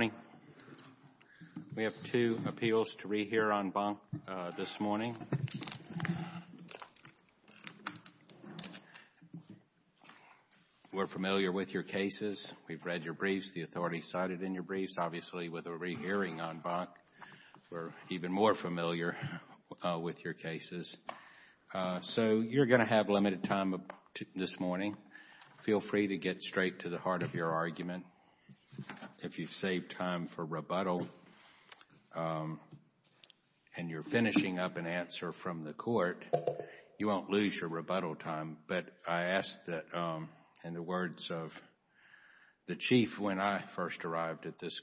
Good morning. We have two appeals to rehear on bunk this morning. We're familiar with your cases. We've read your briefs. The authorities cited in your briefs. Obviously, with a rehearing on bunk, we're even more familiar with your cases. So you're going to have limited time this morning. Feel free to get straight to the heart of your argument. If you've saved time for rebuttal and you're finishing up an answer from the court, you won't lose your rebuttal time. But I ask that in the words of the chief when I first arrived at this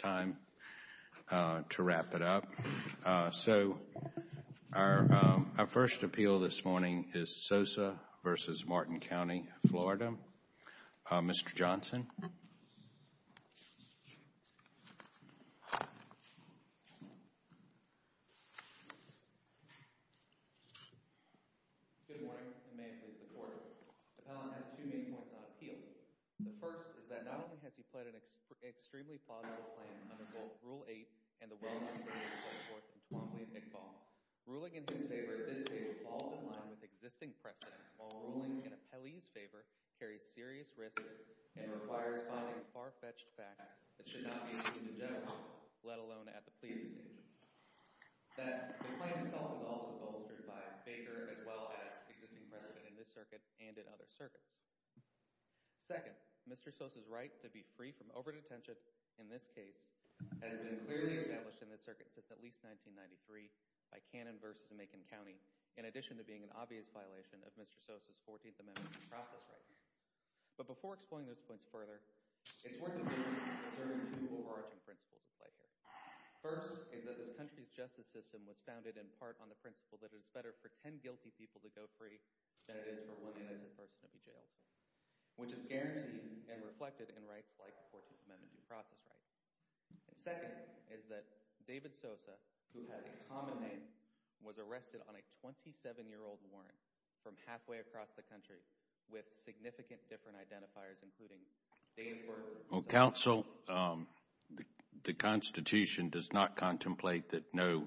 time, to wrap it up. So our first appeal this morning is Sosa v. Martin County, Florida. Mr. Johnson? Good morning. The man is the court. The appellant has two main points on the case. First, the appellant's claim under both Rule 8 and the well-described Second Court in Twombly v. McFaul. Ruling in his favor at this stage falls in line with existing precedent, while ruling in an appellee's favor carries serious risks and requires finding far-fetched facts that should not be seen in general, let alone at the plea decision. The claim itself is also bolstered by Baker as well as existing precedent in this circuit and in other circuits. Second, Mr. Sosa's right to be free from over-detention, in this case, has been clearly established in this circuit since at least 1993 by Cannon v. Macon County, in addition to being an obvious violation of Mr. Sosa's 14th Amendment due process rights. But before exploring those points further, it's worth noting that there are two overarching principles at play here. First, is that this country's justice system was founded in part on the principle that it is better for 10 guilty people to go free than it is for one innocent person to be jailed, which is guaranteed and reflected in rights like the 14th Amendment due process rights. Second, is that David Sosa, who has a common name, was arrested on a 27-year-old warrant from halfway across the country with significant different identifiers, including Dave Berger. Well, counsel, the Constitution does not contemplate that no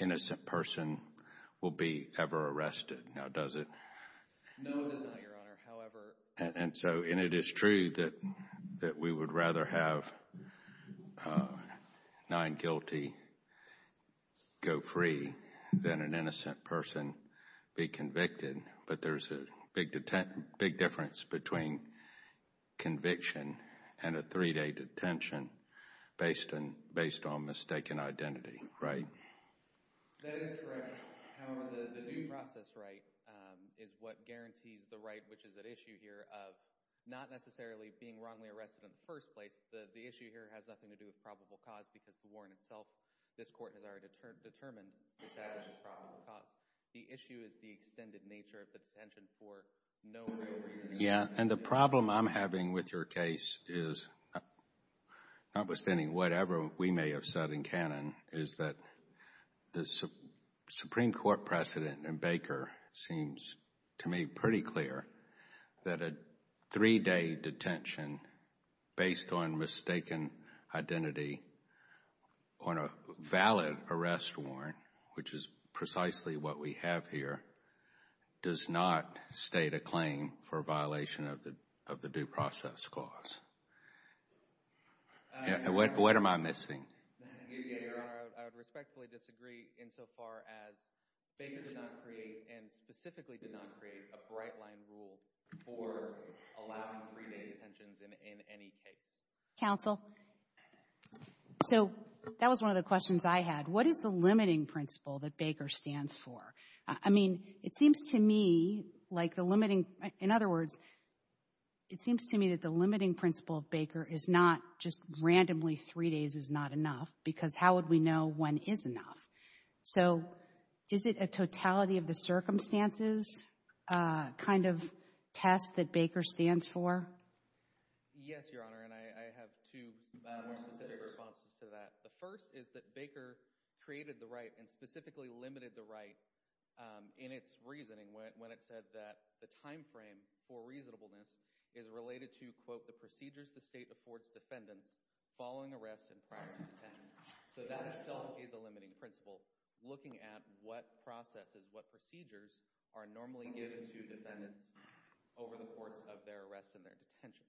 innocent person will be ever arrested, now does it? No, it does not, Your Honor, however. And so, and it is true that we would rather have nine guilty go free than an innocent person be convicted, but there's a big difference between conviction and a three-day detention based on mistaken identity, right? That is correct. However, the due process right is what guarantees the right, which is at issue here, of not necessarily being wrongly arrested in the first place. The issue here has nothing to do with probable cause, because the warrant itself, this Court has already determined, establishes probable cause. The issue is the extended nature of the detention for no real reason. Yeah, and the problem I'm having with your case is, notwithstanding whatever we may have said in canon, is that the Supreme Court precedent in Baker seems to me pretty clear that a three-day detention based on mistaken identity on a valid arrest warrant, which is precisely what we have here, does not state a claim for violation of the due process clause. Yeah, what am I missing? Yeah, Your Honor, I would respectfully disagree insofar as Baker did not create, and specifically did not create, a bright line rule for allowing three-day detentions in any case. Counsel, so that was one of the questions I had. What is the limiting principle that Baker stands for? I mean, it seems to me like the limiting, in other words, it seems to me that the limiting principle of Baker is not just randomly three days is not enough, because how would we know when is enough? So is it a totality of the circumstances kind of test that Baker stands for? Yes, Your Honor, and I have two more specific responses to that. The first is that Baker created the right and specifically limited the right in its reasoning when it said that the time frame for reasonableness is related to, quote, the procedures the state affords defendants following arrest and prior to detention. So that itself is a limiting principle, looking at what processes, what procedures are normally given to defendants over the course of their arrest and their detention.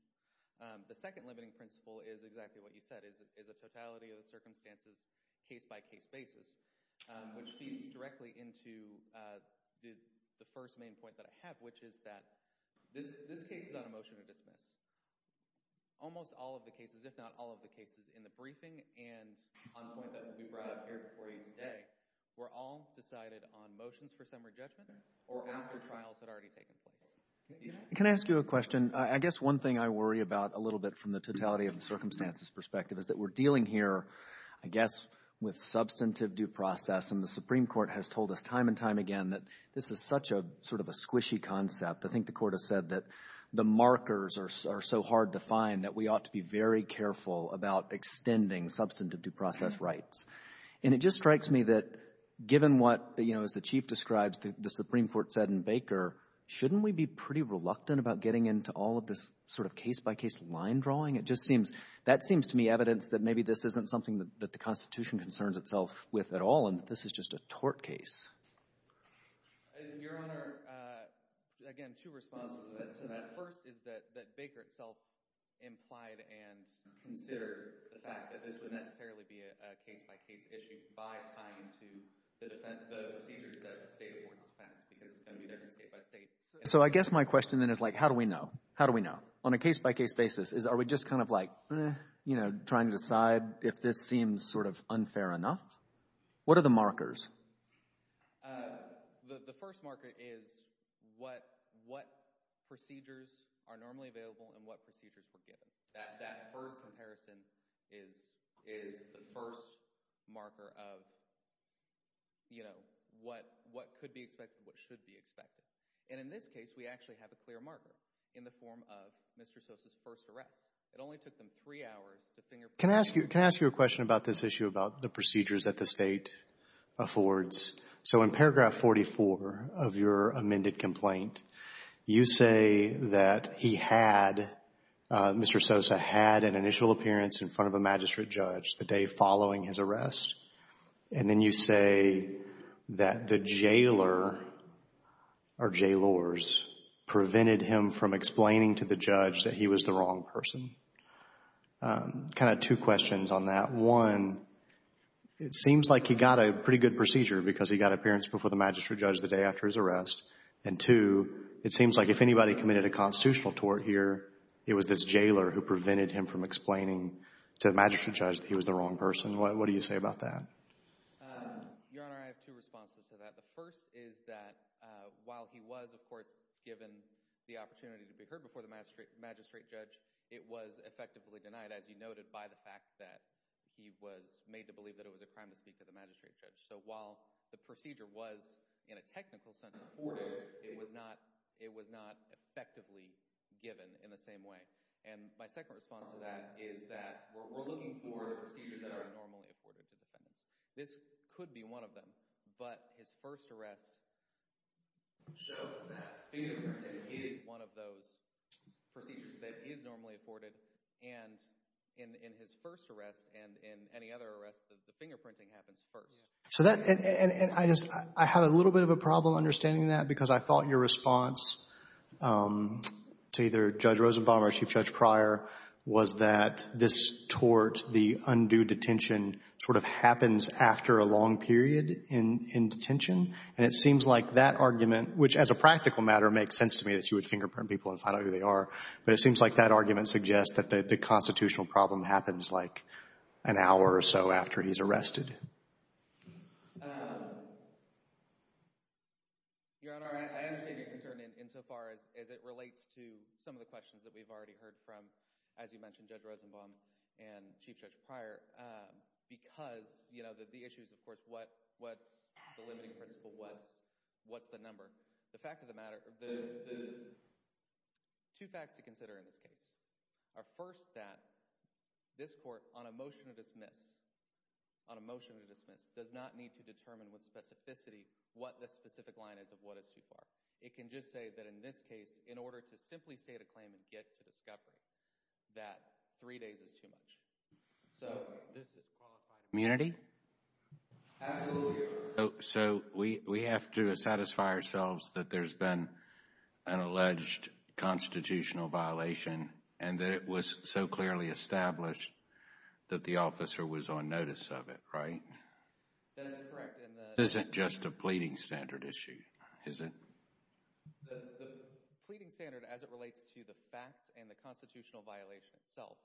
The second limiting principle is exactly what you said, is a totality of the circumstances case-by-case basis, which feeds directly into the first main point that I have, which is that this case is on a motion to dismiss. Almost all of the cases, if not all of the cases in the briefing and on the point that we brought up here before you today, were all decided on motions for summary judgment or after trials had already taken place. Can I ask you a question? I guess one thing I worry about a little bit from the totality of the circumstances perspective is that we're dealing here, I guess, with substantive due process, and the Supreme Court has told us time and time again that this is such a sort of a squishy concept. I think the Court has said that the markers are so hard to find that we ought to be very careful about extending substantive due process rights. And it just strikes me that given what, you know, as the Chief describes, the Supreme Court said in Baker, shouldn't we be pretty reluctant about getting into all of this sort of case-by-case line drawing? It just seems, that seems to me evidence that maybe this isn't something that the Constitution concerns itself with at all, and this is just a tort case. Your Honor, again, two responses to that. First is that that Baker itself implied and considered the fact that this would necessarily be a case-by-case issue by tying into the defense, the procedures that the state affords the facts, because it's going to be different state-by-state. So I guess my question then is like, how do we know? How do we know? On a case-by-case basis, is are we just kind of like, you know, trying to decide if this what are the markers? The first marker is what, what procedures are normally available and what procedures were given. That, that first comparison is, is the first marker of, you know, what, what could be expected, what should be expected. And in this case, we actually have a clear marker in the form of Mr. Sosa's first arrest. It only took them three hours to finger... Can I ask you, can I ask you a question about this issue about the procedures that the state affords? So in paragraph 44 of your amended complaint, you say that he had, Mr. Sosa had an initial appearance in front of a magistrate judge the day following his arrest, and then you say that the jailer or jailors prevented him from explaining to the judge that he was the wrong person. Kind of two questions on that. One, it seems like he got a pretty good procedure because he got appearance before the magistrate judge the day after his arrest. And two, it seems like if anybody committed a constitutional tort here, it was this jailer who prevented him from explaining to the magistrate judge that he was the wrong person. What, what do you say about that? Your Honor, I have two responses to that. The first is that while he was, of course, given the opportunity to be heard before the magistrate judge, it was effectively denied, as you noted, by the fact that he was made to believe that it was a crime to speak to the magistrate judge. So while the procedure was, in a technical sense, afforded, it was not, it was not effectively given in the same way. And my second response to that is that we're looking for the procedures that are normally afforded to defendants. This could be one of them, but his first arrest shows that fingerprinting is one of those procedures that is normally afforded. And in, in his first arrest and in any other arrest, the fingerprinting happens first. So that, and, and I just, I had a little bit of a problem understanding that because I thought your response to either Judge Rosenbaum or Chief Judge Pryor was that this tort, the undue detention, sort of happens after a long period in, in detention. And it seems like that argument, which as a practical matter makes sense to me that you would fingerprint people and find out who they are, but it seems like that argument suggests that the, the constitutional problem happens like an hour or so after he's arrested. Your Honor, I understand your concern in, insofar as, as it relates to some of the questions that we've already heard from, as you mentioned, Judge Rosenbaum and Chief Judge Pryor, because, you know, the, the issues, of course, what, what's the limiting principle, what's, what's the number. The fact of the matter, two facts to consider in this case are first that this court on a motion to dismiss, on a motion to dismiss does not need to determine with specificity what the specific line is of what is too far. It can just say that in this case, in order to simply state a claim and get to discovery, that three days is too much. So, this is qualified immunity? Absolutely. So, we, we have to satisfy ourselves that there's been an alleged constitutional violation and that it was so clearly established that the officer was on notice of it, right? That is correct. This isn't just a pleading standard issue, is it? The pleading standard, as it relates to the facts and the constitutional violation itself,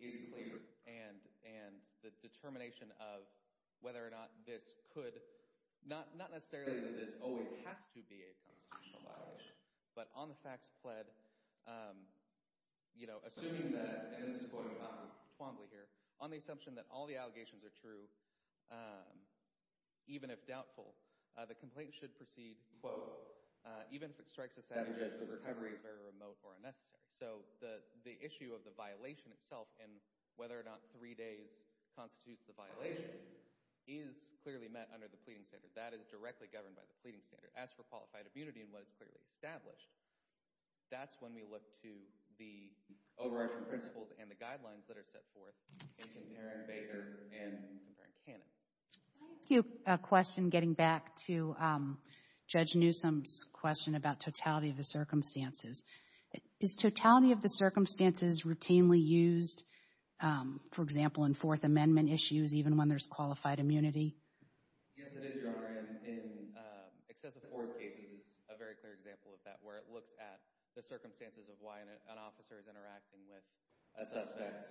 is clear and, and the determination of whether or not this could, not, not necessarily that this always has to be a constitutional violation, but on the facts pled, you know, assuming that, and this is going on fondly here, on the assumption that all the allegations are true, even if doubtful, the complaint should proceed, quote, even if it strikes a savage edge, the recovery is very remote or unnecessary. So, the, the issue of the violation itself and whether or not three days constitutes the violation is clearly met under the pleading standard. That is directly governed by the pleading standard. As for qualified immunity and what is clearly established, that's when we look to the overarching principles and the guidelines that are set forth in Comparant-Baker and Comparant-Cannon. I have a question getting back to Judge Newsom's question about totality of the circumstances. Is totality of the circumstances routinely used, for example, in Fourth Amendment issues, even when there's qualified immunity? Yes, it is, Your Honor, and in excessive force cases, a very clear example of that, where it looks at the circumstances of why an officer is interacting with a suspect,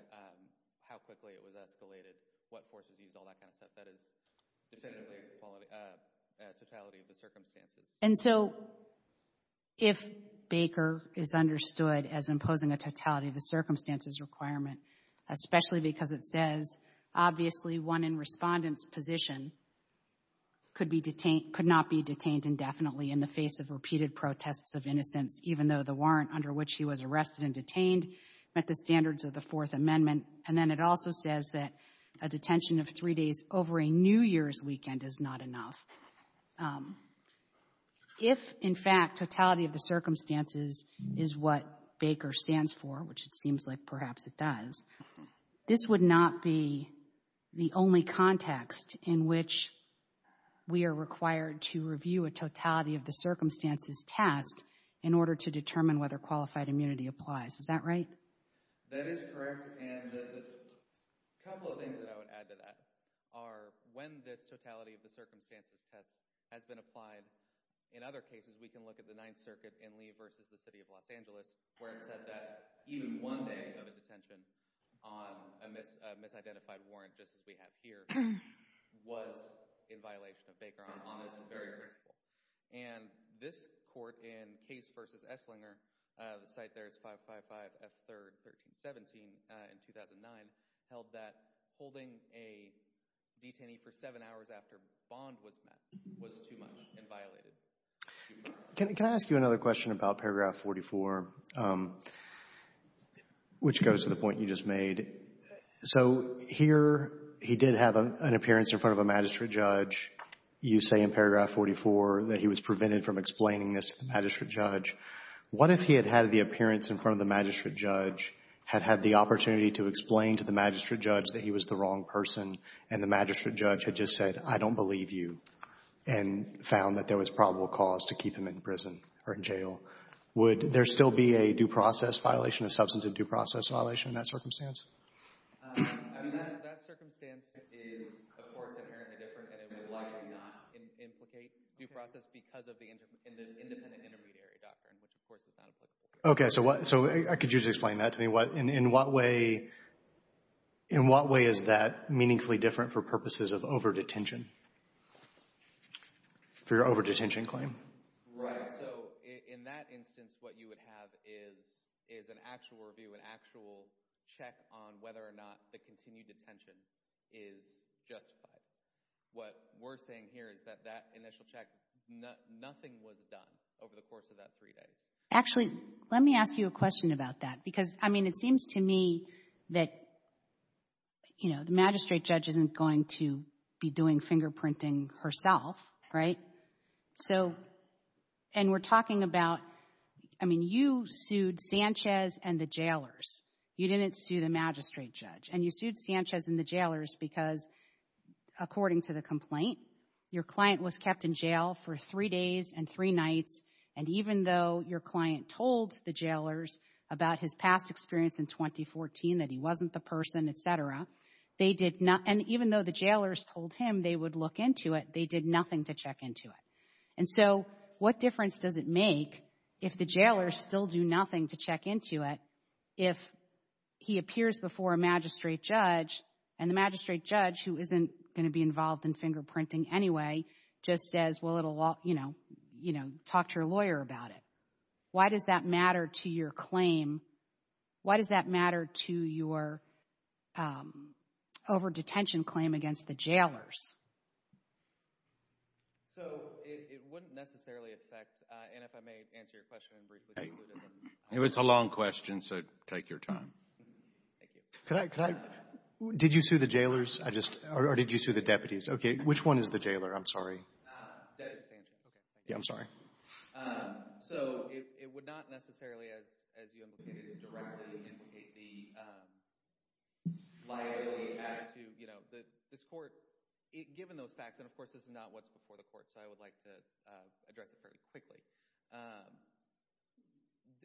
how quickly it was escalated, what force is used, all that kind of stuff. That is definitively totality of the circumstances. And so, if Baker is understood as imposing a totality of the circumstances requirement, especially because it says, obviously, one in respondent's position could be detained, could not be detained indefinitely in the face of repeated protests of innocence, even though the warrant under which he was arrested and detained met the standards of Fourth Amendment, and then it also says that a detention of three days over a New Year's weekend is not enough. If, in fact, totality of the circumstances is what Baker stands for, which it seems like perhaps it does, this would not be the only context in which we are required to review a totality of the circumstances test in order to determine whether qualified immunity applies. Is that right? That is correct. And a couple of things that I would add to that are, when this totality of the circumstances test has been applied, in other cases, we can look at the Ninth Circuit in Lee versus the City of Los Angeles, where it said that even one day of a detention on a misidentified warrant, just as we have here, was in violation of Baker on this very principle. And this court in Case versus Esslinger, the site there is 555 F. 3rd, 1317, in 2009, held that holding a detainee for seven hours after bond was met was too much and violated. Can I ask you another question about paragraph 44, which goes to the point you just made? So here he did have an appearance in front of a magistrate judge. You say in paragraph 44 that he was prevented from explaining this to the magistrate judge. What if he had had the appearance in front of the magistrate judge, had had the opportunity to explain to the magistrate judge that he was the wrong person, and the magistrate judge had just said, I don't believe you, and found that there was probable cause to keep him in prison or in jail? Would there still be a due process violation, a substantive due process violation in that circumstance? I mean, that circumstance is, of course, inherently different, and it would likely not implicate due process because of the independent intermediary doctrine, which of course is not applicable here. Okay. So I could use you to explain that to me. In what way is that meaningfully different for purposes of overdetention, for your overdetention claim? Right. So in that instance, what you would have is an actual review, an actual check on whether or not the continued detention is justified. What we're saying here is that that initial check, nothing was done over the course of that three days. Actually, let me ask you a question about that because, I mean, it seems to me that, you know, the magistrate judge isn't going to be doing fingerprinting herself, right? So, and we're talking about, I mean, you sued Sanchez and the jailers. You didn't sue the magistrate judge, and you sued Sanchez and the jailers because, according to the complaint, your client was kept in jail for three days and three nights, and even though your client told the jailers about his past experience in 2014, that he wasn't the person, et cetera, they did not, and even though the jailers told him they would look into it, they did nothing to check into it. And so, what difference does it make if the jailers still do nothing to check into it if he appears before a magistrate judge and the magistrate judge, who isn't going to be involved in fingerprinting anyway, just says, well, it'll, you know, talk to your lawyer about it. Why does that matter to your claim? Why does that matter to your over-detention claim against the jailers? So, it wouldn't necessarily affect, and if I may answer your question briefly. It's a long question, so take your time. Thank you. Could I, could I, did you sue the jailers? I just, or did you sue the deputies? Okay, which one is the jailer? I'm sorry. That is Sanchez. Okay, thank you. Yeah, I'm sorry. Um, so, it, it would not necessarily, as, as you indicated, directly implicate the, um, liability attached to, you know, the, this court, given those facts, and of course, this is not what's before the court, so I would like to, uh, address it fairly quickly.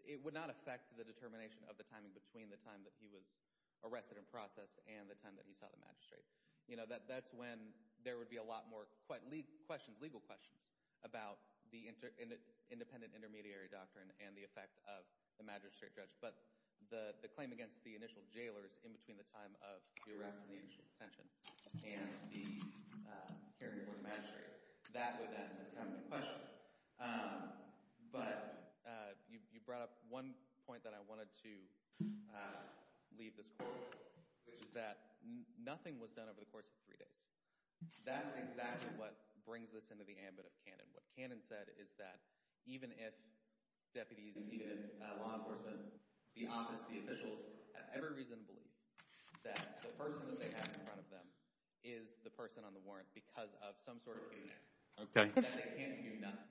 It would not affect the determination of the timing between the time that he was arrested and processed and the time that he saw the magistrate. You know, that, that's when there would be a lot more questions, legal questions about the inter, independent intermediary doctrine and the effect of the magistrate judge. But the, the claim against the initial jailers in between the time of the arrest and the initial detention and the, uh, hearing for the magistrate, that would then become the question. Um, but, uh, you, you brought up one point that I wanted to, uh, leave this court with, which is that nothing was done over the course of three days. That's exactly what brings this into the ambit of Cannon. What Cannon said is that even if deputies, even if, uh, law enforcement, the office, the officials, have every reason to believe that the person that they have in front of them is the person on the warrant because of some sort of internet, that they can't do nothing.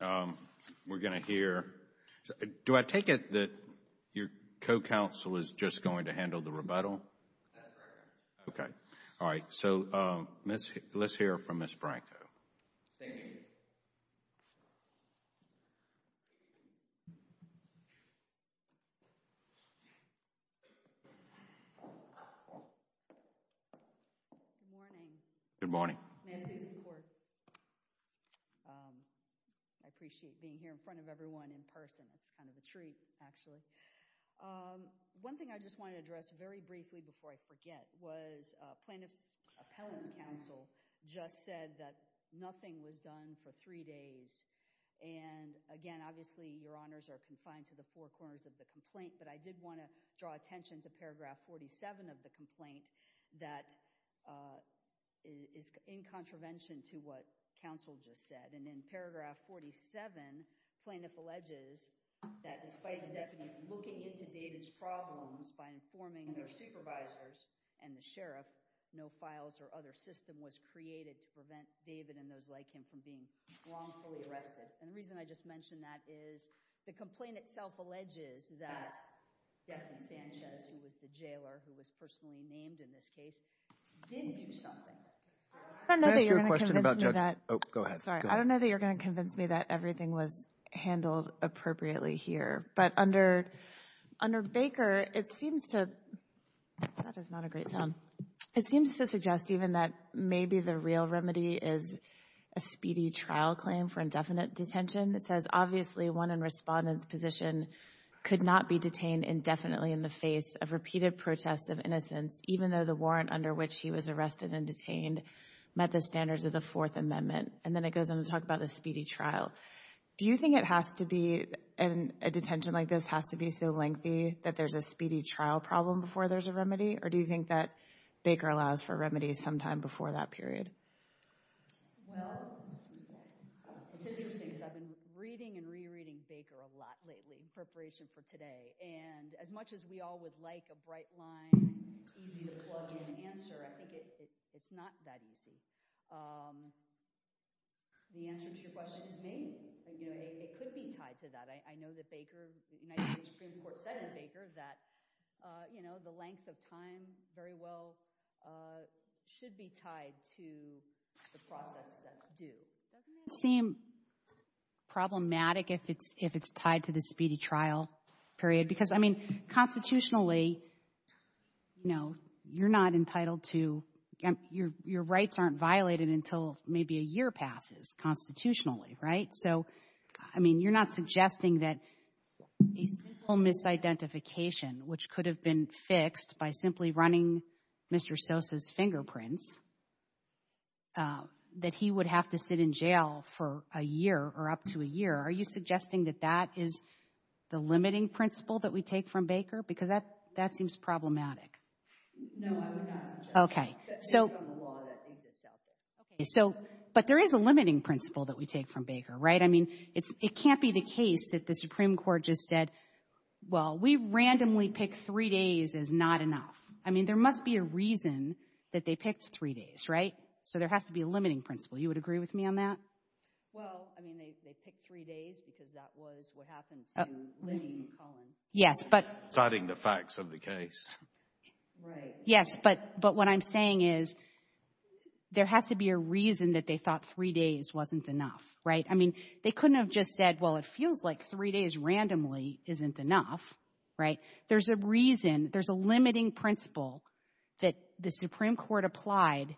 Um, we're going to hear, do I take it that your co-counsel is just going to handle the rebuttal? That's correct, Your Honor. Okay. All right. So, um, let's hear from Ms. Branko. Thank you. Good morning. Good morning. May I please report? Um, I appreciate being here in front of everyone in person. It's kind of a treat, actually. Um, one thing I just want to address very briefly before I forget was, uh, plaintiff's appellate's counsel just said that nothing was done for three days. And again, obviously, Your Honors are confined to the four corners of the complaint, but I did want to draw attention to paragraph 47 of the complaint that, uh, is in contravention to what counsel just said. And in paragraph 47, plaintiff alleges that despite the defendants looking into David's problems by informing their supervisors and the sheriff, no files or other system was created to prevent David and those like him from being wrongfully arrested. And the reason I just mentioned that is the complaint itself alleges that Daphne Sanchez, who was the jailer who was personally named in this case, didn't do something. I know that you're going to convince me that. Oh, go ahead. Sorry. I don't know that you're going to convince me that everything was handled appropriately here. But under, under Baker, it seems to, that is not a great sound. It seems to suggest even that maybe the real remedy is a speedy trial claim for indefinite detention. It says, obviously, one in respondent's position could not be detained indefinitely in the face of repeated protests of innocence, even though the warrant under which he was arrested and detained met the standards of the Fourth Amendment. And then it goes on to talk about the speedy trial. Do you think it has to be, a detention like this has to be so lengthy that there's a speedy trial problem before there's a remedy? Or do you think that Baker allows for remedies sometime before that period? Well, it's interesting because I've been reading and re-reading Baker a lot lately in preparation for today. And as much as we all would like a bright line, easy to plug in answer, I think it's not that easy. The answer to your question is maybe, you know, it could be tied to that. I know that Baker, the United States Supreme Court said in Baker that, you know, the length of time very well should be tied to the process that's due. Doesn't it seem problematic if it's, if it's tied to the speedy trial period? Because, I mean, constitutionally, you know, you're not entitled to, your rights aren't violated until maybe a year passes constitutionally, right? So, I mean, you're not suggesting that a simple misidentification, which could have been fixed by simply running Mr. Sosa's fingerprints, that he would have to sit in jail for a year or up to a year. Are you suggesting that that is the limiting principle that we take from Baker? Because that, that seems problematic. No, I would not suggest that. Okay. So, but there is a limiting principle that we take from Baker, right? I mean, it can't be the case that the Supreme Court just said, well, we randomly picked three days is not enough. I mean, there must be a reason that they picked three days, right? So, there has to be a limiting principle. You would agree with me on that? Well, I mean, they picked three days because that was what happened to Lizzie McCullen. Yes, but. Citing the facts of the case. Right. Yes, but what I'm saying is there has to be a reason that they thought three days wasn't enough, right? I mean, they couldn't have just said, well, it feels like three days randomly isn't enough, right? There's a reason, there's a limiting principle that the Supreme Court applied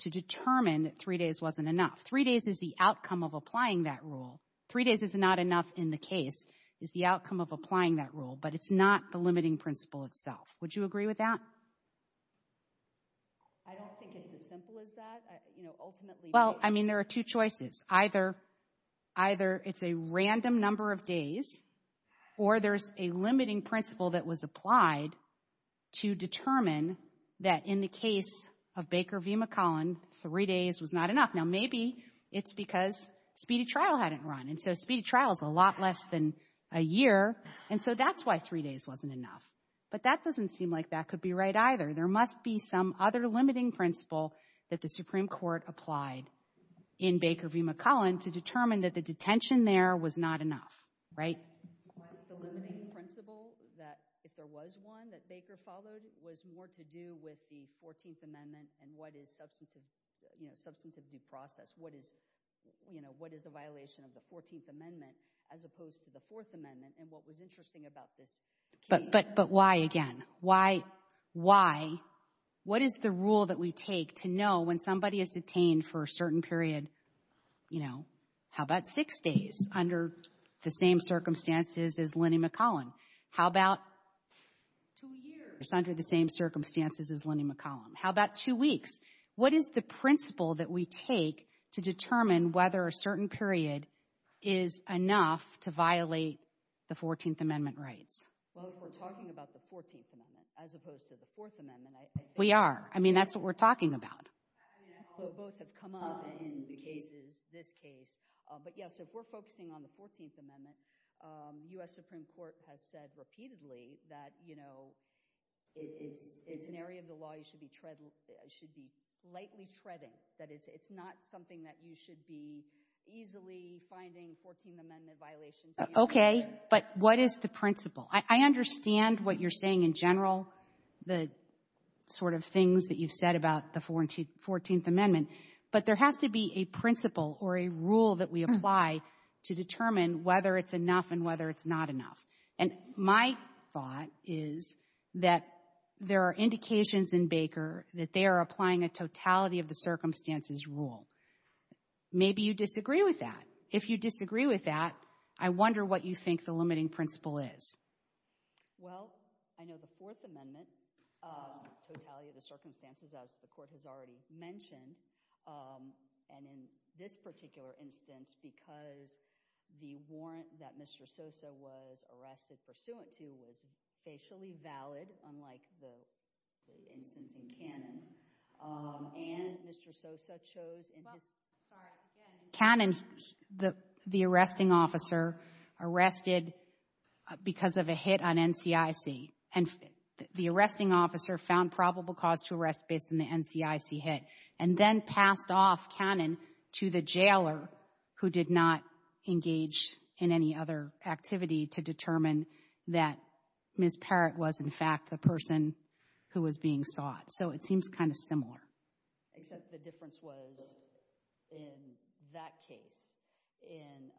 to determine that three days wasn't enough. Three days is the outcome of applying that rule. Three days is not enough in the case, is the outcome of applying that rule, but it's not the limiting principle itself. Would you agree with that? I don't think it's as simple as that. You know, ultimately. Well, I mean, there are two choices. Either, either it's a random number of days or there's a limiting principle that was applied to determine that in the case of Baker v. McCullen, three days was not enough. Now, maybe it's because speedy trial hadn't run. And so, speedy trial is a lot less than a year. And so, that's why three days wasn't enough. But that doesn't seem like that could be right either. There must be some other limiting principle that the Supreme Court applied in Baker v. McCullen to determine that the detention there was not enough, right? What if the limiting principle, if there was one that Baker followed, was more to do with the 14th Amendment and what is substantive due process? What is, you know, what is a violation of the 14th Amendment as opposed to the 4th Amendment and what was interesting about this case? But why, again? Why, why, what is the rule that we take to know when somebody is detained for a certain period, you know, how about six days under the same circumstances as Lenny McCullen? How about two years under the same circumstances as Lenny McCullen? How about two weeks? What is the principle that we take to determine whether a certain period is enough to violate the 14th Amendment rights? Well, if we're talking about the 14th Amendment as opposed to the 4th Amendment. We are. I mean, that's what we're talking about. Both have come up in the cases, this case. But yes, if we're focusing on the 14th Amendment, U.S. Supreme Court has said repeatedly that, you know, it's an area of the law you should be tread, should be lightly treading. That it's not something that you should be easily finding 14th Amendment violations. Okay, but what is the principle? I understand what you're saying in general, the sort of things that you've said about the 14th Amendment. But there has to be a principle or a rule that we apply to determine whether it's enough and whether it's not enough. And my thought is that there are indications in Baker that they are applying a totality of the circumstances rule. Maybe you disagree with that. If you disagree with that, I wonder what you think the limiting principle is. Well, I know the 4th Amendment, totality of the circumstances, as the Court has already mentioned, and in this particular instance, because the warrant that Mr. Sosa was arrested pursuant to was facially valid, unlike the instance in Cannon. And Mr. Sosa chose in his... Cannon, the arresting officer, arrested because of a hit on NCIC. And the arresting officer found probable cause to arrest based on the NCIC hit and then passed off Cannon to the jailer who did not engage in any other activity to determine that Ms. Parrott was in fact the person who was being sought. So it seems kind of similar. Except the difference was in that case, in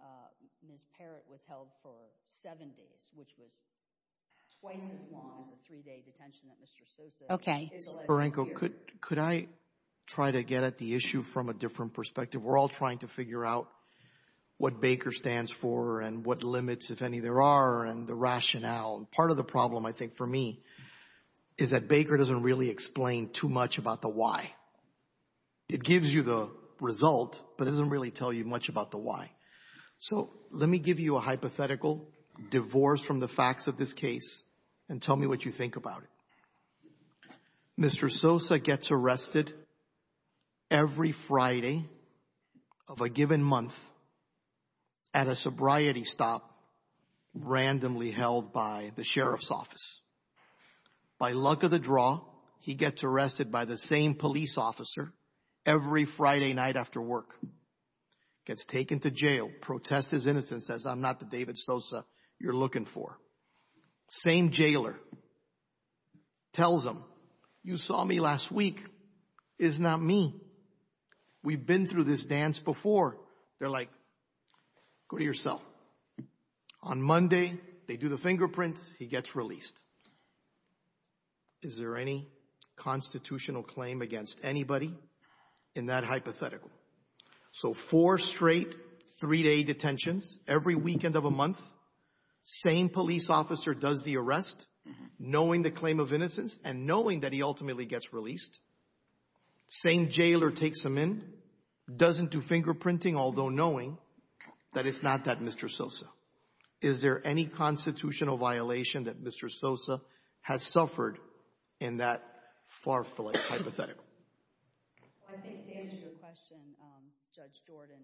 Ms. Parrott was held for seven days, which was twice as long as the three-day detention that Mr. Sosa... Okay. Could I try to get at the issue from a different perspective? We're all trying to figure out what Baker stands for and what limits, if any, there are and the rationale. Part of the problem, I think, for me is that Baker doesn't really explain too much about the why. It gives you the result, but it doesn't really tell you much about the why. So let me give you a hypothetical divorce from the facts of this case and tell me what you think about it. Mr. Sosa gets arrested every Friday of a given month at a sobriety stop randomly held by the sheriff's office. By luck of the draw, he gets arrested by the same police officer every Friday night after work. Gets taken to jail, protests his innocence, says, I'm not the David Sosa you're looking for. Same jailer tells him, you saw me last week, it's not me. We've been through this dance before. They're like, go to your cell. On Monday, they do the fingerprint, he gets released. Is there any constitutional claim against anybody in that hypothetical? So four straight three-day detentions every weekend of a month. Same police officer does the arrest, knowing the claim of innocence and knowing that he ultimately gets released. Same jailer takes him in, doesn't do fingerprinting, although knowing that it's not that Mr. Sosa. Is there any constitutional violation that Mr. Sosa has suffered in that far-fletched hypothetical? Well, I think to answer your question, Judge Jordan,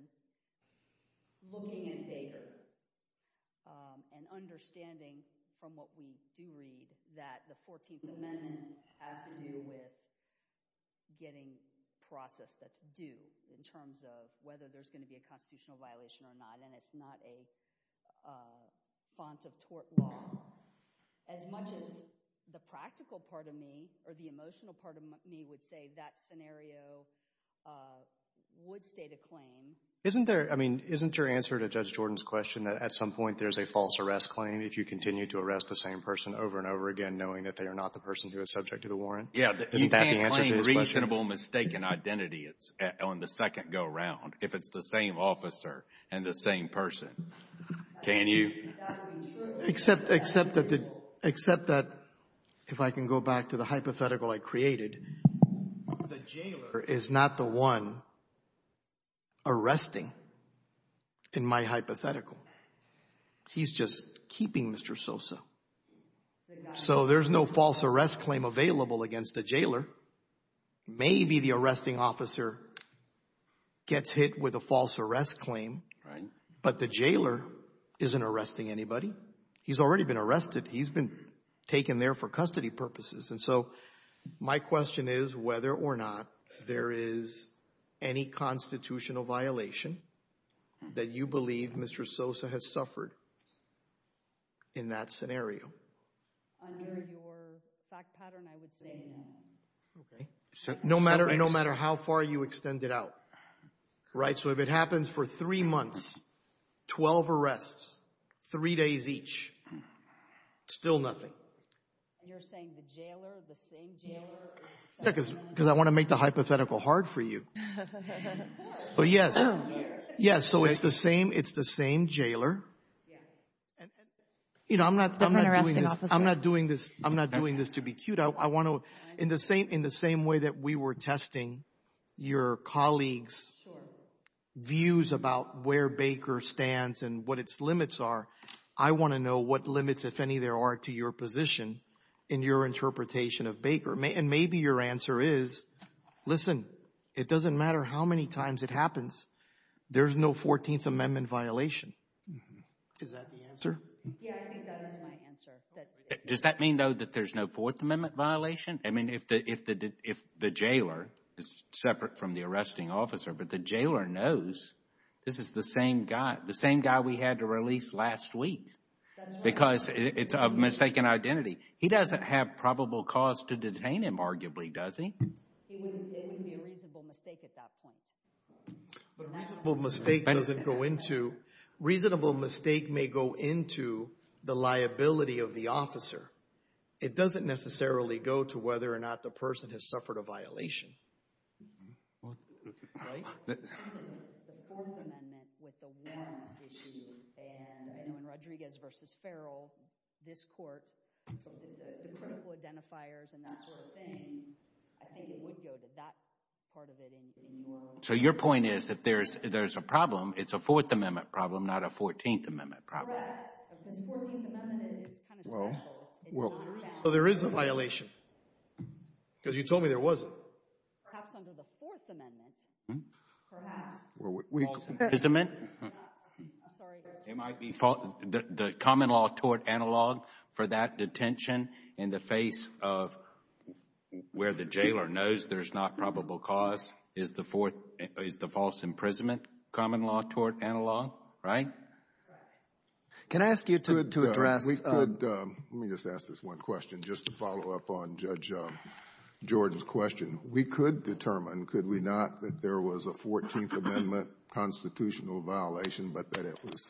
looking at Baker and understanding from what we do read that the 14th Amendment has to do with getting process that's due in terms of whether there's going to be a constitutional violation or not, and it's not a font of tort law. As much as the practical part of me or the emotional part of me would say that scenario would state a claim. Isn't there, I mean, isn't your answer to Judge Jordan's question that at some point there's a false arrest claim if you continue to arrest the same person over and over again knowing that they are not the person who is subject to the warrant? Yeah, you can't claim reasonable mistaken identity on the second go-around if it's the same officer and the same person. Can you? Except that, if I can go back to the hypothetical I created, the jailer is not the one arresting in my hypothetical. He's just keeping Mr. Sosa. So there's no false arrest claim available against the jailer. Maybe the arresting officer gets hit with a false arrest claim, but the jailer isn't arresting anybody. He's already been arrested. He's been taken there for custody purposes, and so my question is whether or not there is any constitutional violation that you believe Mr. Sosa has suffered in that scenario. Under your fact pattern, I would say no. Okay, so no matter how far you extend it out, right? So if it happens for three months, 12 arrests, three days each, still nothing. You're saying the jailer, the same jailer? Because I want to make the hypothetical hard for you. But yes, yes, so it's the same, it's the same jailer. And you know, I'm not, I'm not doing this, I'm not doing this, I'm not doing this to be cute. I want to, in the same, in the same way that we were testing your colleagues' views about where Baker stands and what its limits are, I want to know what limits, if any, there are to your position in your interpretation of Baker. And maybe your answer is, listen, it doesn't matter how many times it happens, there's no 14th Amendment violation. Is that the answer? Yeah, I think that is my answer. Does that mean, though, that there's no Fourth Amendment violation? I mean, if the, if the, if the jailer, it's separate from the arresting officer, but the jailer knows this is the same guy, the same guy we had to release last week. Because it's a mistaken identity. He doesn't have probable cause to detain him, arguably, does he? It would be a reasonable mistake at that point. But a reasonable mistake doesn't go into, reasonable mistake may go into the liability of the officer. It doesn't necessarily go to whether or not the person has suffered a violation. Right? The Fourth Amendment with the warrant issue, and when Rodriguez versus Farrell, this court, the critical identifiers and that sort of thing, I think it would go to that part of So your point is, if there's, there's a problem, it's a Fourth Amendment problem, not a 14th Amendment problem. Well, there is a violation. Because you told me there wasn't. Perhaps under the Fourth Amendment, perhaps. It might be the common law tort analog for that detention in the face of where the jailer knows there's not probable cause, is the false imprisonment common law tort analog, right? Can I ask you to address? Let me just ask this one question, just to follow up on Judge Jordan's question. We could determine, could we not, that there was a 14th Amendment constitutional violation, but that it was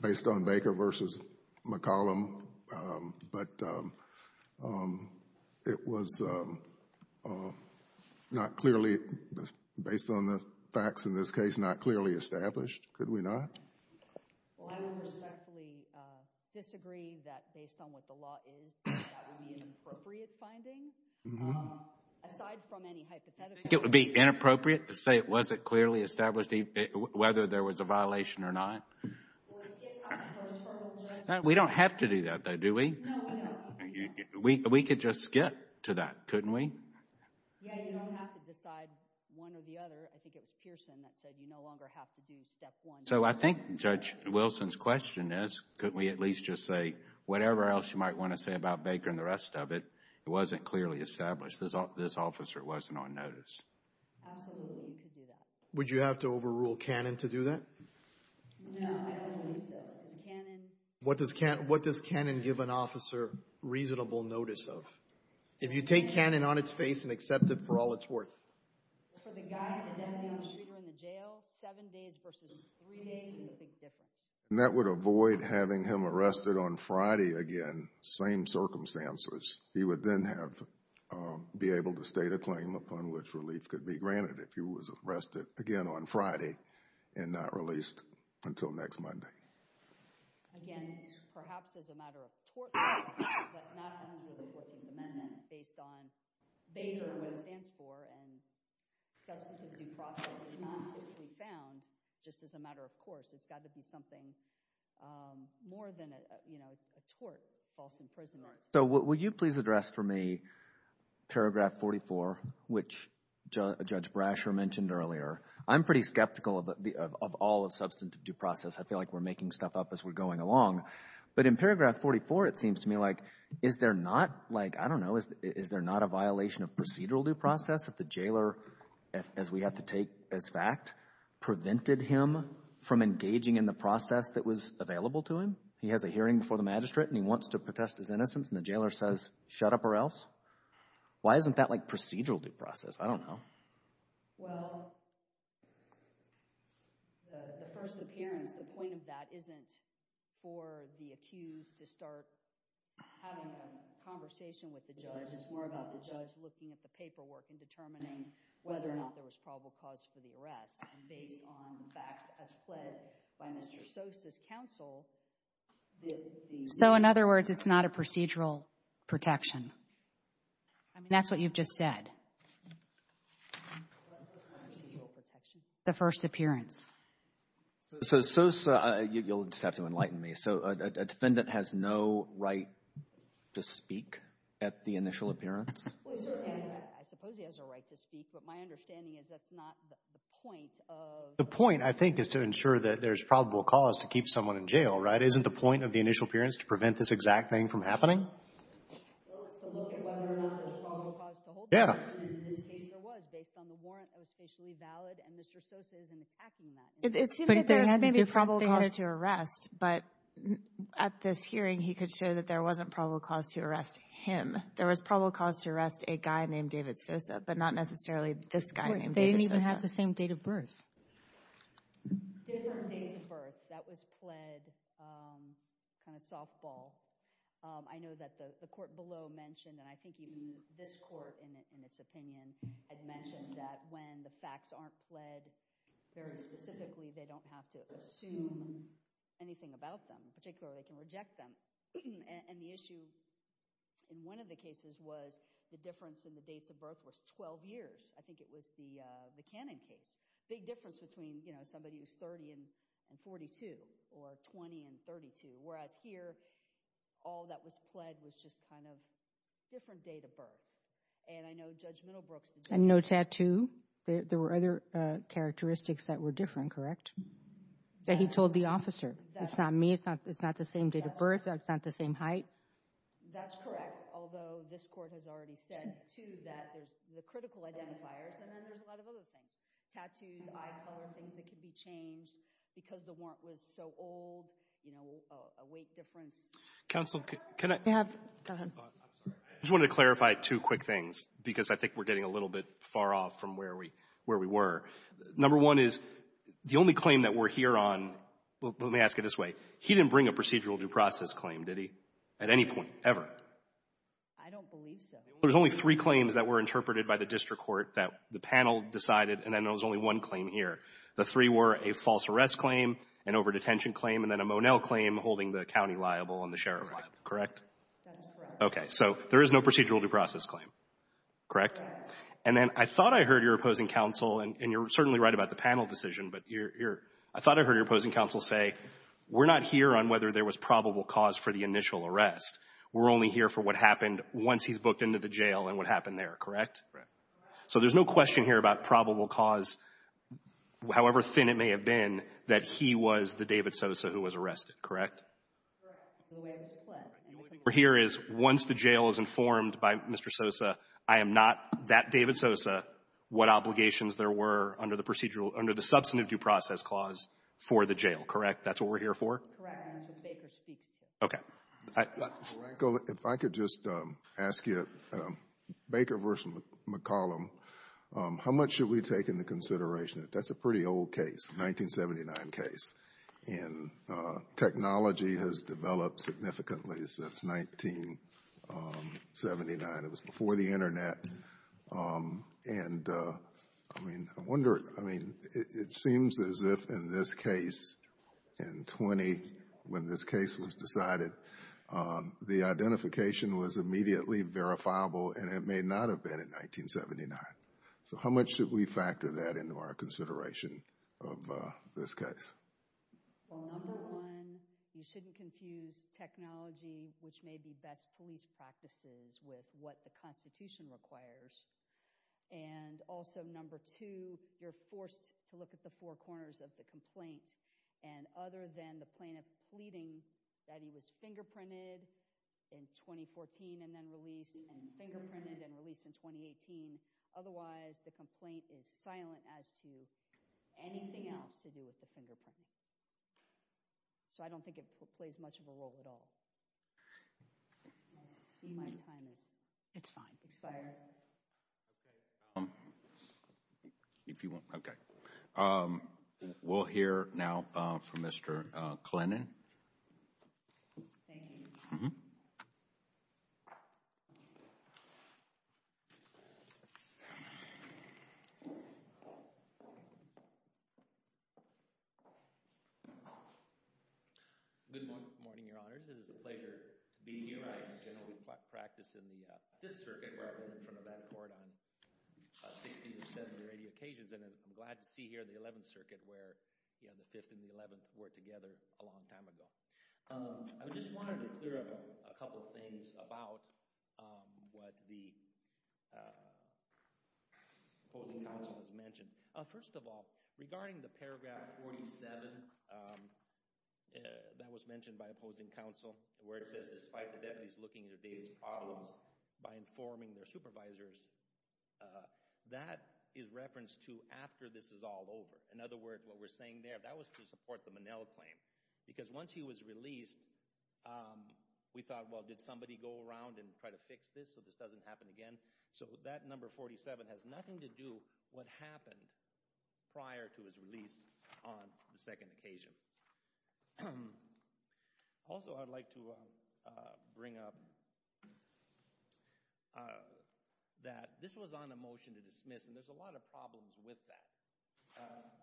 based on Baker versus McCollum. But it was not clearly, based on the facts in this case, not clearly established. Could we not? Well, I would respectfully disagree that based on what the law is, that would be an appropriate finding. Aside from any hypothetical. It would be inappropriate to say it wasn't clearly established, whether there was a violation or not. Well, if it was, first of all, Judge— We don't have to do that, though, do we? No, we don't. We could just skip to that, couldn't we? Yeah, you don't have to decide one or the other. I think it was Pearson that said you no longer have to do step one. So I think Judge Wilson's question is, couldn't we at least just say, whatever else you might want to say about Baker and the rest of it, it wasn't clearly established. This officer wasn't on notice. Absolutely, you could do that. Would you have to overrule Cannon to do that? No, I don't think so. What does Cannon give an officer reasonable notice of? If you take Cannon on its face and accept it for all it's worth. For the guy who had been on the street or in the jail, seven days versus three days is a big difference. And that would avoid having him arrested on Friday again, same circumstances. He would then be able to state a claim upon which relief could be granted if he was arrested again on Friday and not released until next Monday. Again, perhaps as a matter of tort law, but not under the 14th Amendment, based on Baker and what it stands for and substantive due process is not typically found just as a matter of course. It's got to be something more than a tort, false imprisonment. So would you please address for me paragraph 44, which Judge Brasher mentioned earlier. I'm pretty skeptical of all of substantive due process. I feel like we're making stuff up as we're going along. But in paragraph 44, it seems to me like, is there not like, I don't know, is there not a violation of procedural due process if the jailer, as we have to take as fact, prevented him from engaging in the process that was available to him? He has a hearing before the magistrate and he wants to protest his innocence and the jailer says, shut up or else. Why isn't that like procedural due process? I don't know. Well, the first appearance, the point of that isn't for the accused to start having a conversation with the judge. It's more about the judge looking at the paperwork and determining whether or not there was probable cause for the arrest. Based on facts as fled by Mr. Sosa's counsel. So in other words, it's not a procedural protection? I mean, that's what you've just said. The first appearance. So Sosa, you'll just have to enlighten me. So a defendant has no right to speak at the initial appearance? I suppose he has a right to speak, but my understanding is that's not the point of. The point, I think, is to ensure that there's probable cause to keep someone in jail, right? Isn't the point of the initial appearance to prevent this exact thing from happening? Well, it's to look at whether or not there's probable cause to hold the person. And in this case, there was. Based on the warrant, it was facially valid. And Mr. Sosa isn't attacking that. But there had been a probable cause to arrest. But at this hearing, he could show that there wasn't probable cause to arrest him. There was probable cause to arrest a guy named David Sosa, but not necessarily this guy named David Sosa. They didn't even have the same date of birth. Different dates of birth. That was pled kind of softball. I know that the court below mentioned, and I think even this court, in its opinion, had mentioned that when the facts aren't pled very specifically, they don't have to assume anything about them. Particularly, they can reject them. And the issue in one of the cases was the difference in the dates of birth was 12 years. I think it was the Cannon case. Big difference between somebody who's 30 and 42, or 20 and 32. Whereas here, all that was pled was just kind of different date of birth. And I know Judge Middlebrooks- And no tattoo. There were other characteristics that were different, correct? That he told the officer. It's not me. It's not the same date of birth. It's not the same height. That's correct. Although this court has already said, too, that there's the critical identifiers, and then there's a lot of other things. Tattoos, eye color, things that can be changed because the warrant was so old. A weight difference. Counsel, can I- Yeah, go ahead. I'm sorry. I just wanted to clarify two quick things because I think we're getting a little bit far off from where we were. Number one is, the only claim that we're here on, let me ask it this way. He didn't bring a procedural due process claim, did he? At any point, ever? I don't believe so. There's only three claims that were interpreted by the district court that the panel decided, and then there was only one claim here. The three were a false arrest claim, an overdetention claim, and then a Monell claim holding the county liable and the sheriff liable, correct? That's correct. Okay. So there is no procedural due process claim, correct? And then I thought I heard your opposing counsel, and you're certainly right about the panel decision, but I thought I heard your opposing counsel say, we're not here on whether there was probable cause for the initial arrest. We're only here for what happened once he's booked into the jail and what happened there, correct? Correct. So there's no question here about probable cause, however thin it may have been, that he was the David Sosa who was arrested, correct? Correct. The way it was planned. The only thing we're here is, once the jail is informed by Mr. Sosa, I am not that David Sosa, what obligations there were under the procedural under the substantive due process clause for the jail, correct? That's what we're here for? Correct. And that's what Baker speaks to. Okay. If I could just ask you, Baker v. McCollum, how much should we take into consideration? That's a pretty old case, 1979 case. And technology has developed significantly since 1979. It was before the internet. And I mean, I wonder, I mean, it seems as if in this case in 20, when this case was decided, the identification was immediately verifiable and it may not have been in 1979. So how much should we factor that into our consideration of this case? Well, number one, you shouldn't confuse technology, which may be best police practices with what the constitution requires. And also number two, you're forced to look at the four corners of the complaint. And other than the plaintiff pleading that he was fingerprinted in 2014 and then released, and fingerprinted and released in 2018, otherwise the complaint is silent as to anything else to do with the fingerprint. So I don't think it plays much of a role at all. I see my time is, it's fine, expired. If you want, okay. We'll hear now from Mr. Klenin. Thank you. Good morning, your honors. It is a pleasure being here. I generally practice in the 5th Circuit where I run in front of that court on 60 or 70 or 80 occasions. And I'm glad to see here in the 11th Circuit where the 5th and the 11th were together a long time ago. I just wanted to clear up a couple of things about what the opposing counsel has mentioned. First of all, regarding the paragraph 47, that was mentioned by opposing counsel, where it says despite the deputies looking into David's problems by informing their supervisors, that is referenced to after this is all over. In other words, what we're saying there, that was to support the Monell claim. Because once he was released, we thought, well, did somebody go around and try to fix this so this doesn't happen again? So that number 47 has nothing to do what happened prior to his release on the second occasion. Also, I'd like to bring up that this was on a motion to dismiss, and there's a lot of problems with that.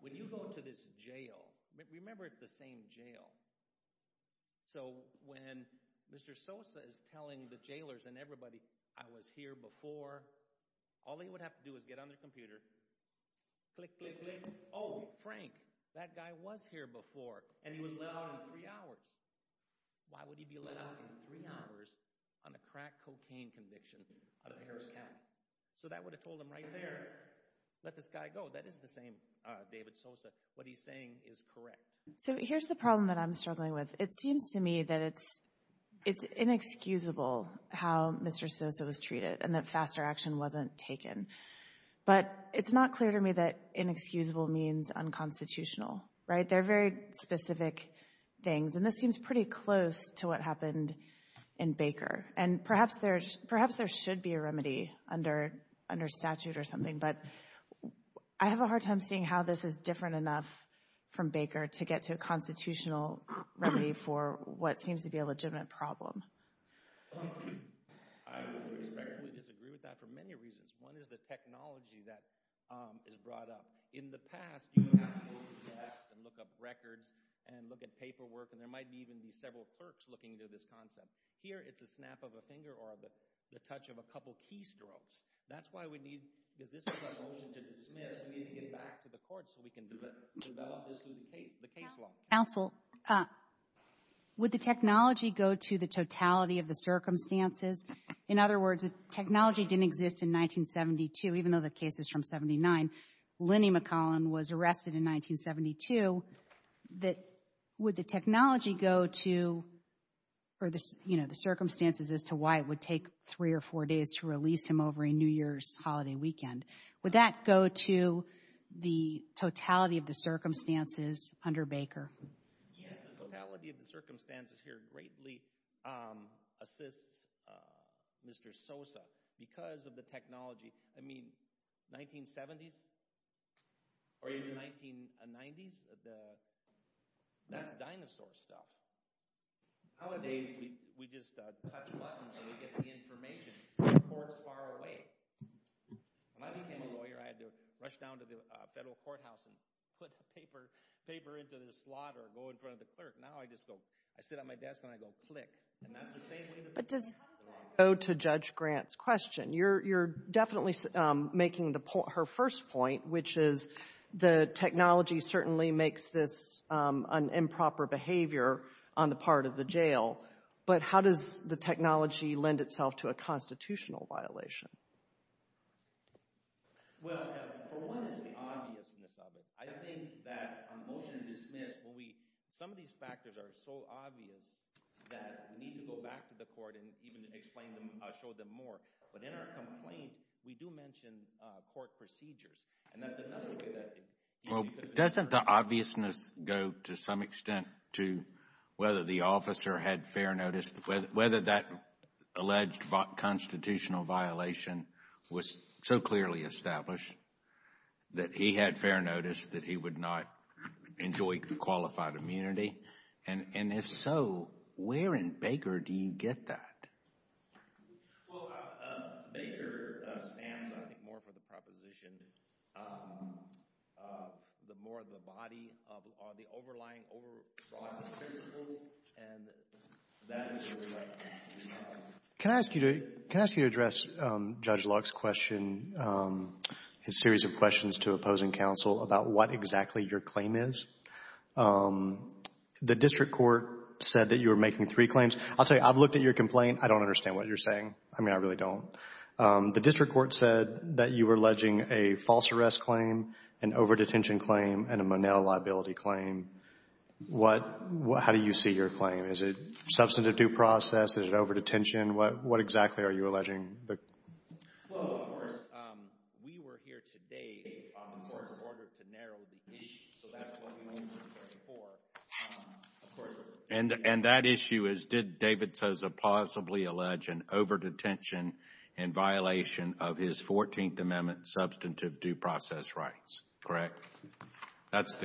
When you go to this jail, remember it's the same jail, so when Mr. Sosa is telling the jailers and everybody, I was here before, all they would have to do is get on their computer, click, click, click, oh, Frank, that guy was here before, and he was let out in three hours. Why would he be let out in three hours on a crack cocaine conviction out of Harris County? So that would have told them right there, let this guy go. That is the same David Sosa. What he's saying is correct. So here's the problem that I'm struggling with. It seems to me that it's inexcusable how Mr. Sosa was treated, and that faster action wasn't taken, but it's not clear to me that inexcusable means unconstitutional, right? They're very specific things, and this seems pretty close to what happened in Baker, and perhaps there should be a remedy under statute or something, but I have a hard time seeing how this is different enough from Baker to get to a constitutional remedy for what seems to be a legitimate problem. I respectfully disagree with that for many reasons. One is the technology that is brought up. In the past, you would have to look at the past and look up records and look at paperwork, and there might even be several clerks looking into this concept. Here, it's a snap of a finger or the touch of a couple keystrokes. That's why we need, because this was a motion to dismiss, we need to get back to the court so we can develop the case law. Counsel, would the technology go to the totality of the circumstances? In other words, technology didn't exist in 1972, even though the case is from 79. Lenny McCollum was arrested in 1972. Would the technology go to the circumstances as to why it would take three or four days to release him over a New Year's holiday weekend? Would that go to the totality of the circumstances under Baker? Yes, the totality of the circumstances here greatly assists Mr. Sosa because of the technology. I mean, 1970s or even 1990s, that's dinosaur stuff. Nowadays, we just touch a button so we get the information from courts far away. When I became a lawyer, I had to rush down to the federal courthouse and put paper into the slot or go in front of the clerk. Now, I just go, I sit at my desk and I go, click. And that's the same thing. But how does that go to Judge Grant's question? You're definitely making her first point, which is the technology certainly makes this an improper behavior on the part of the jail. But how does the technology lend itself to a constitutional violation? Well, for one, it's the obviousness of it. I think that on motion to dismiss, some of these factors are so obvious that we need to go back to the court and even explain them, show them more. But in our complaint, we do mention court procedures. And that's another way that... Well, doesn't the obviousness go to some extent to whether the officer had fair notice, whether that alleged constitutional violation was so clearly established that he had fair notice that he would not enjoy qualified immunity? And if so, where in Baker do you get that? Well, Baker stands, I think, more for the proposition the more the body of the overlying principles. And that is what we like to do. Can I ask you to address Judge Luck's question, his series of questions to opposing counsel about what exactly your claim is? The district court said that you were making three claims. I'll tell you, I've looked at your complaint. I don't understand what you're saying. I mean, I really don't. The district court said that you were alleging a false arrest claim, an overdetention claim, and a Monell liability claim. What, how do you see your claim? Is it substantive due process? Is it overdetention? What exactly are you alleging? Well, of course, we were here today in order to narrow the issue. So that's what we went through before. And that issue is, did David Tosa possibly allege an overdetention in violation of his 14th Amendment substantive due process rights, correct? That's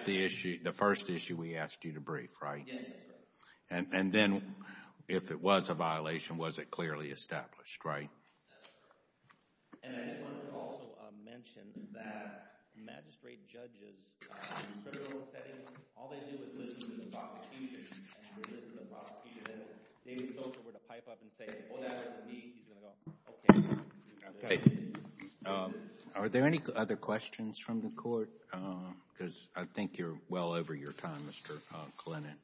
the issue, the first issue we asked you to brief, right? Yes, sir. And then if it was a violation, was it clearly established, right? That's correct. And I just wanted to also mention that magistrate judges in federal settings, all they do is listen to the prosecution. And if you listen to the prosecution, then if David Tosa were to pipe up and say, oh, that was me, he's going to go, okay. Okay. Are there any other questions from the court? Because I think you're well over your time, Mr. Klinen.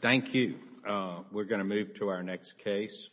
Thank you. We're going to move to our next case.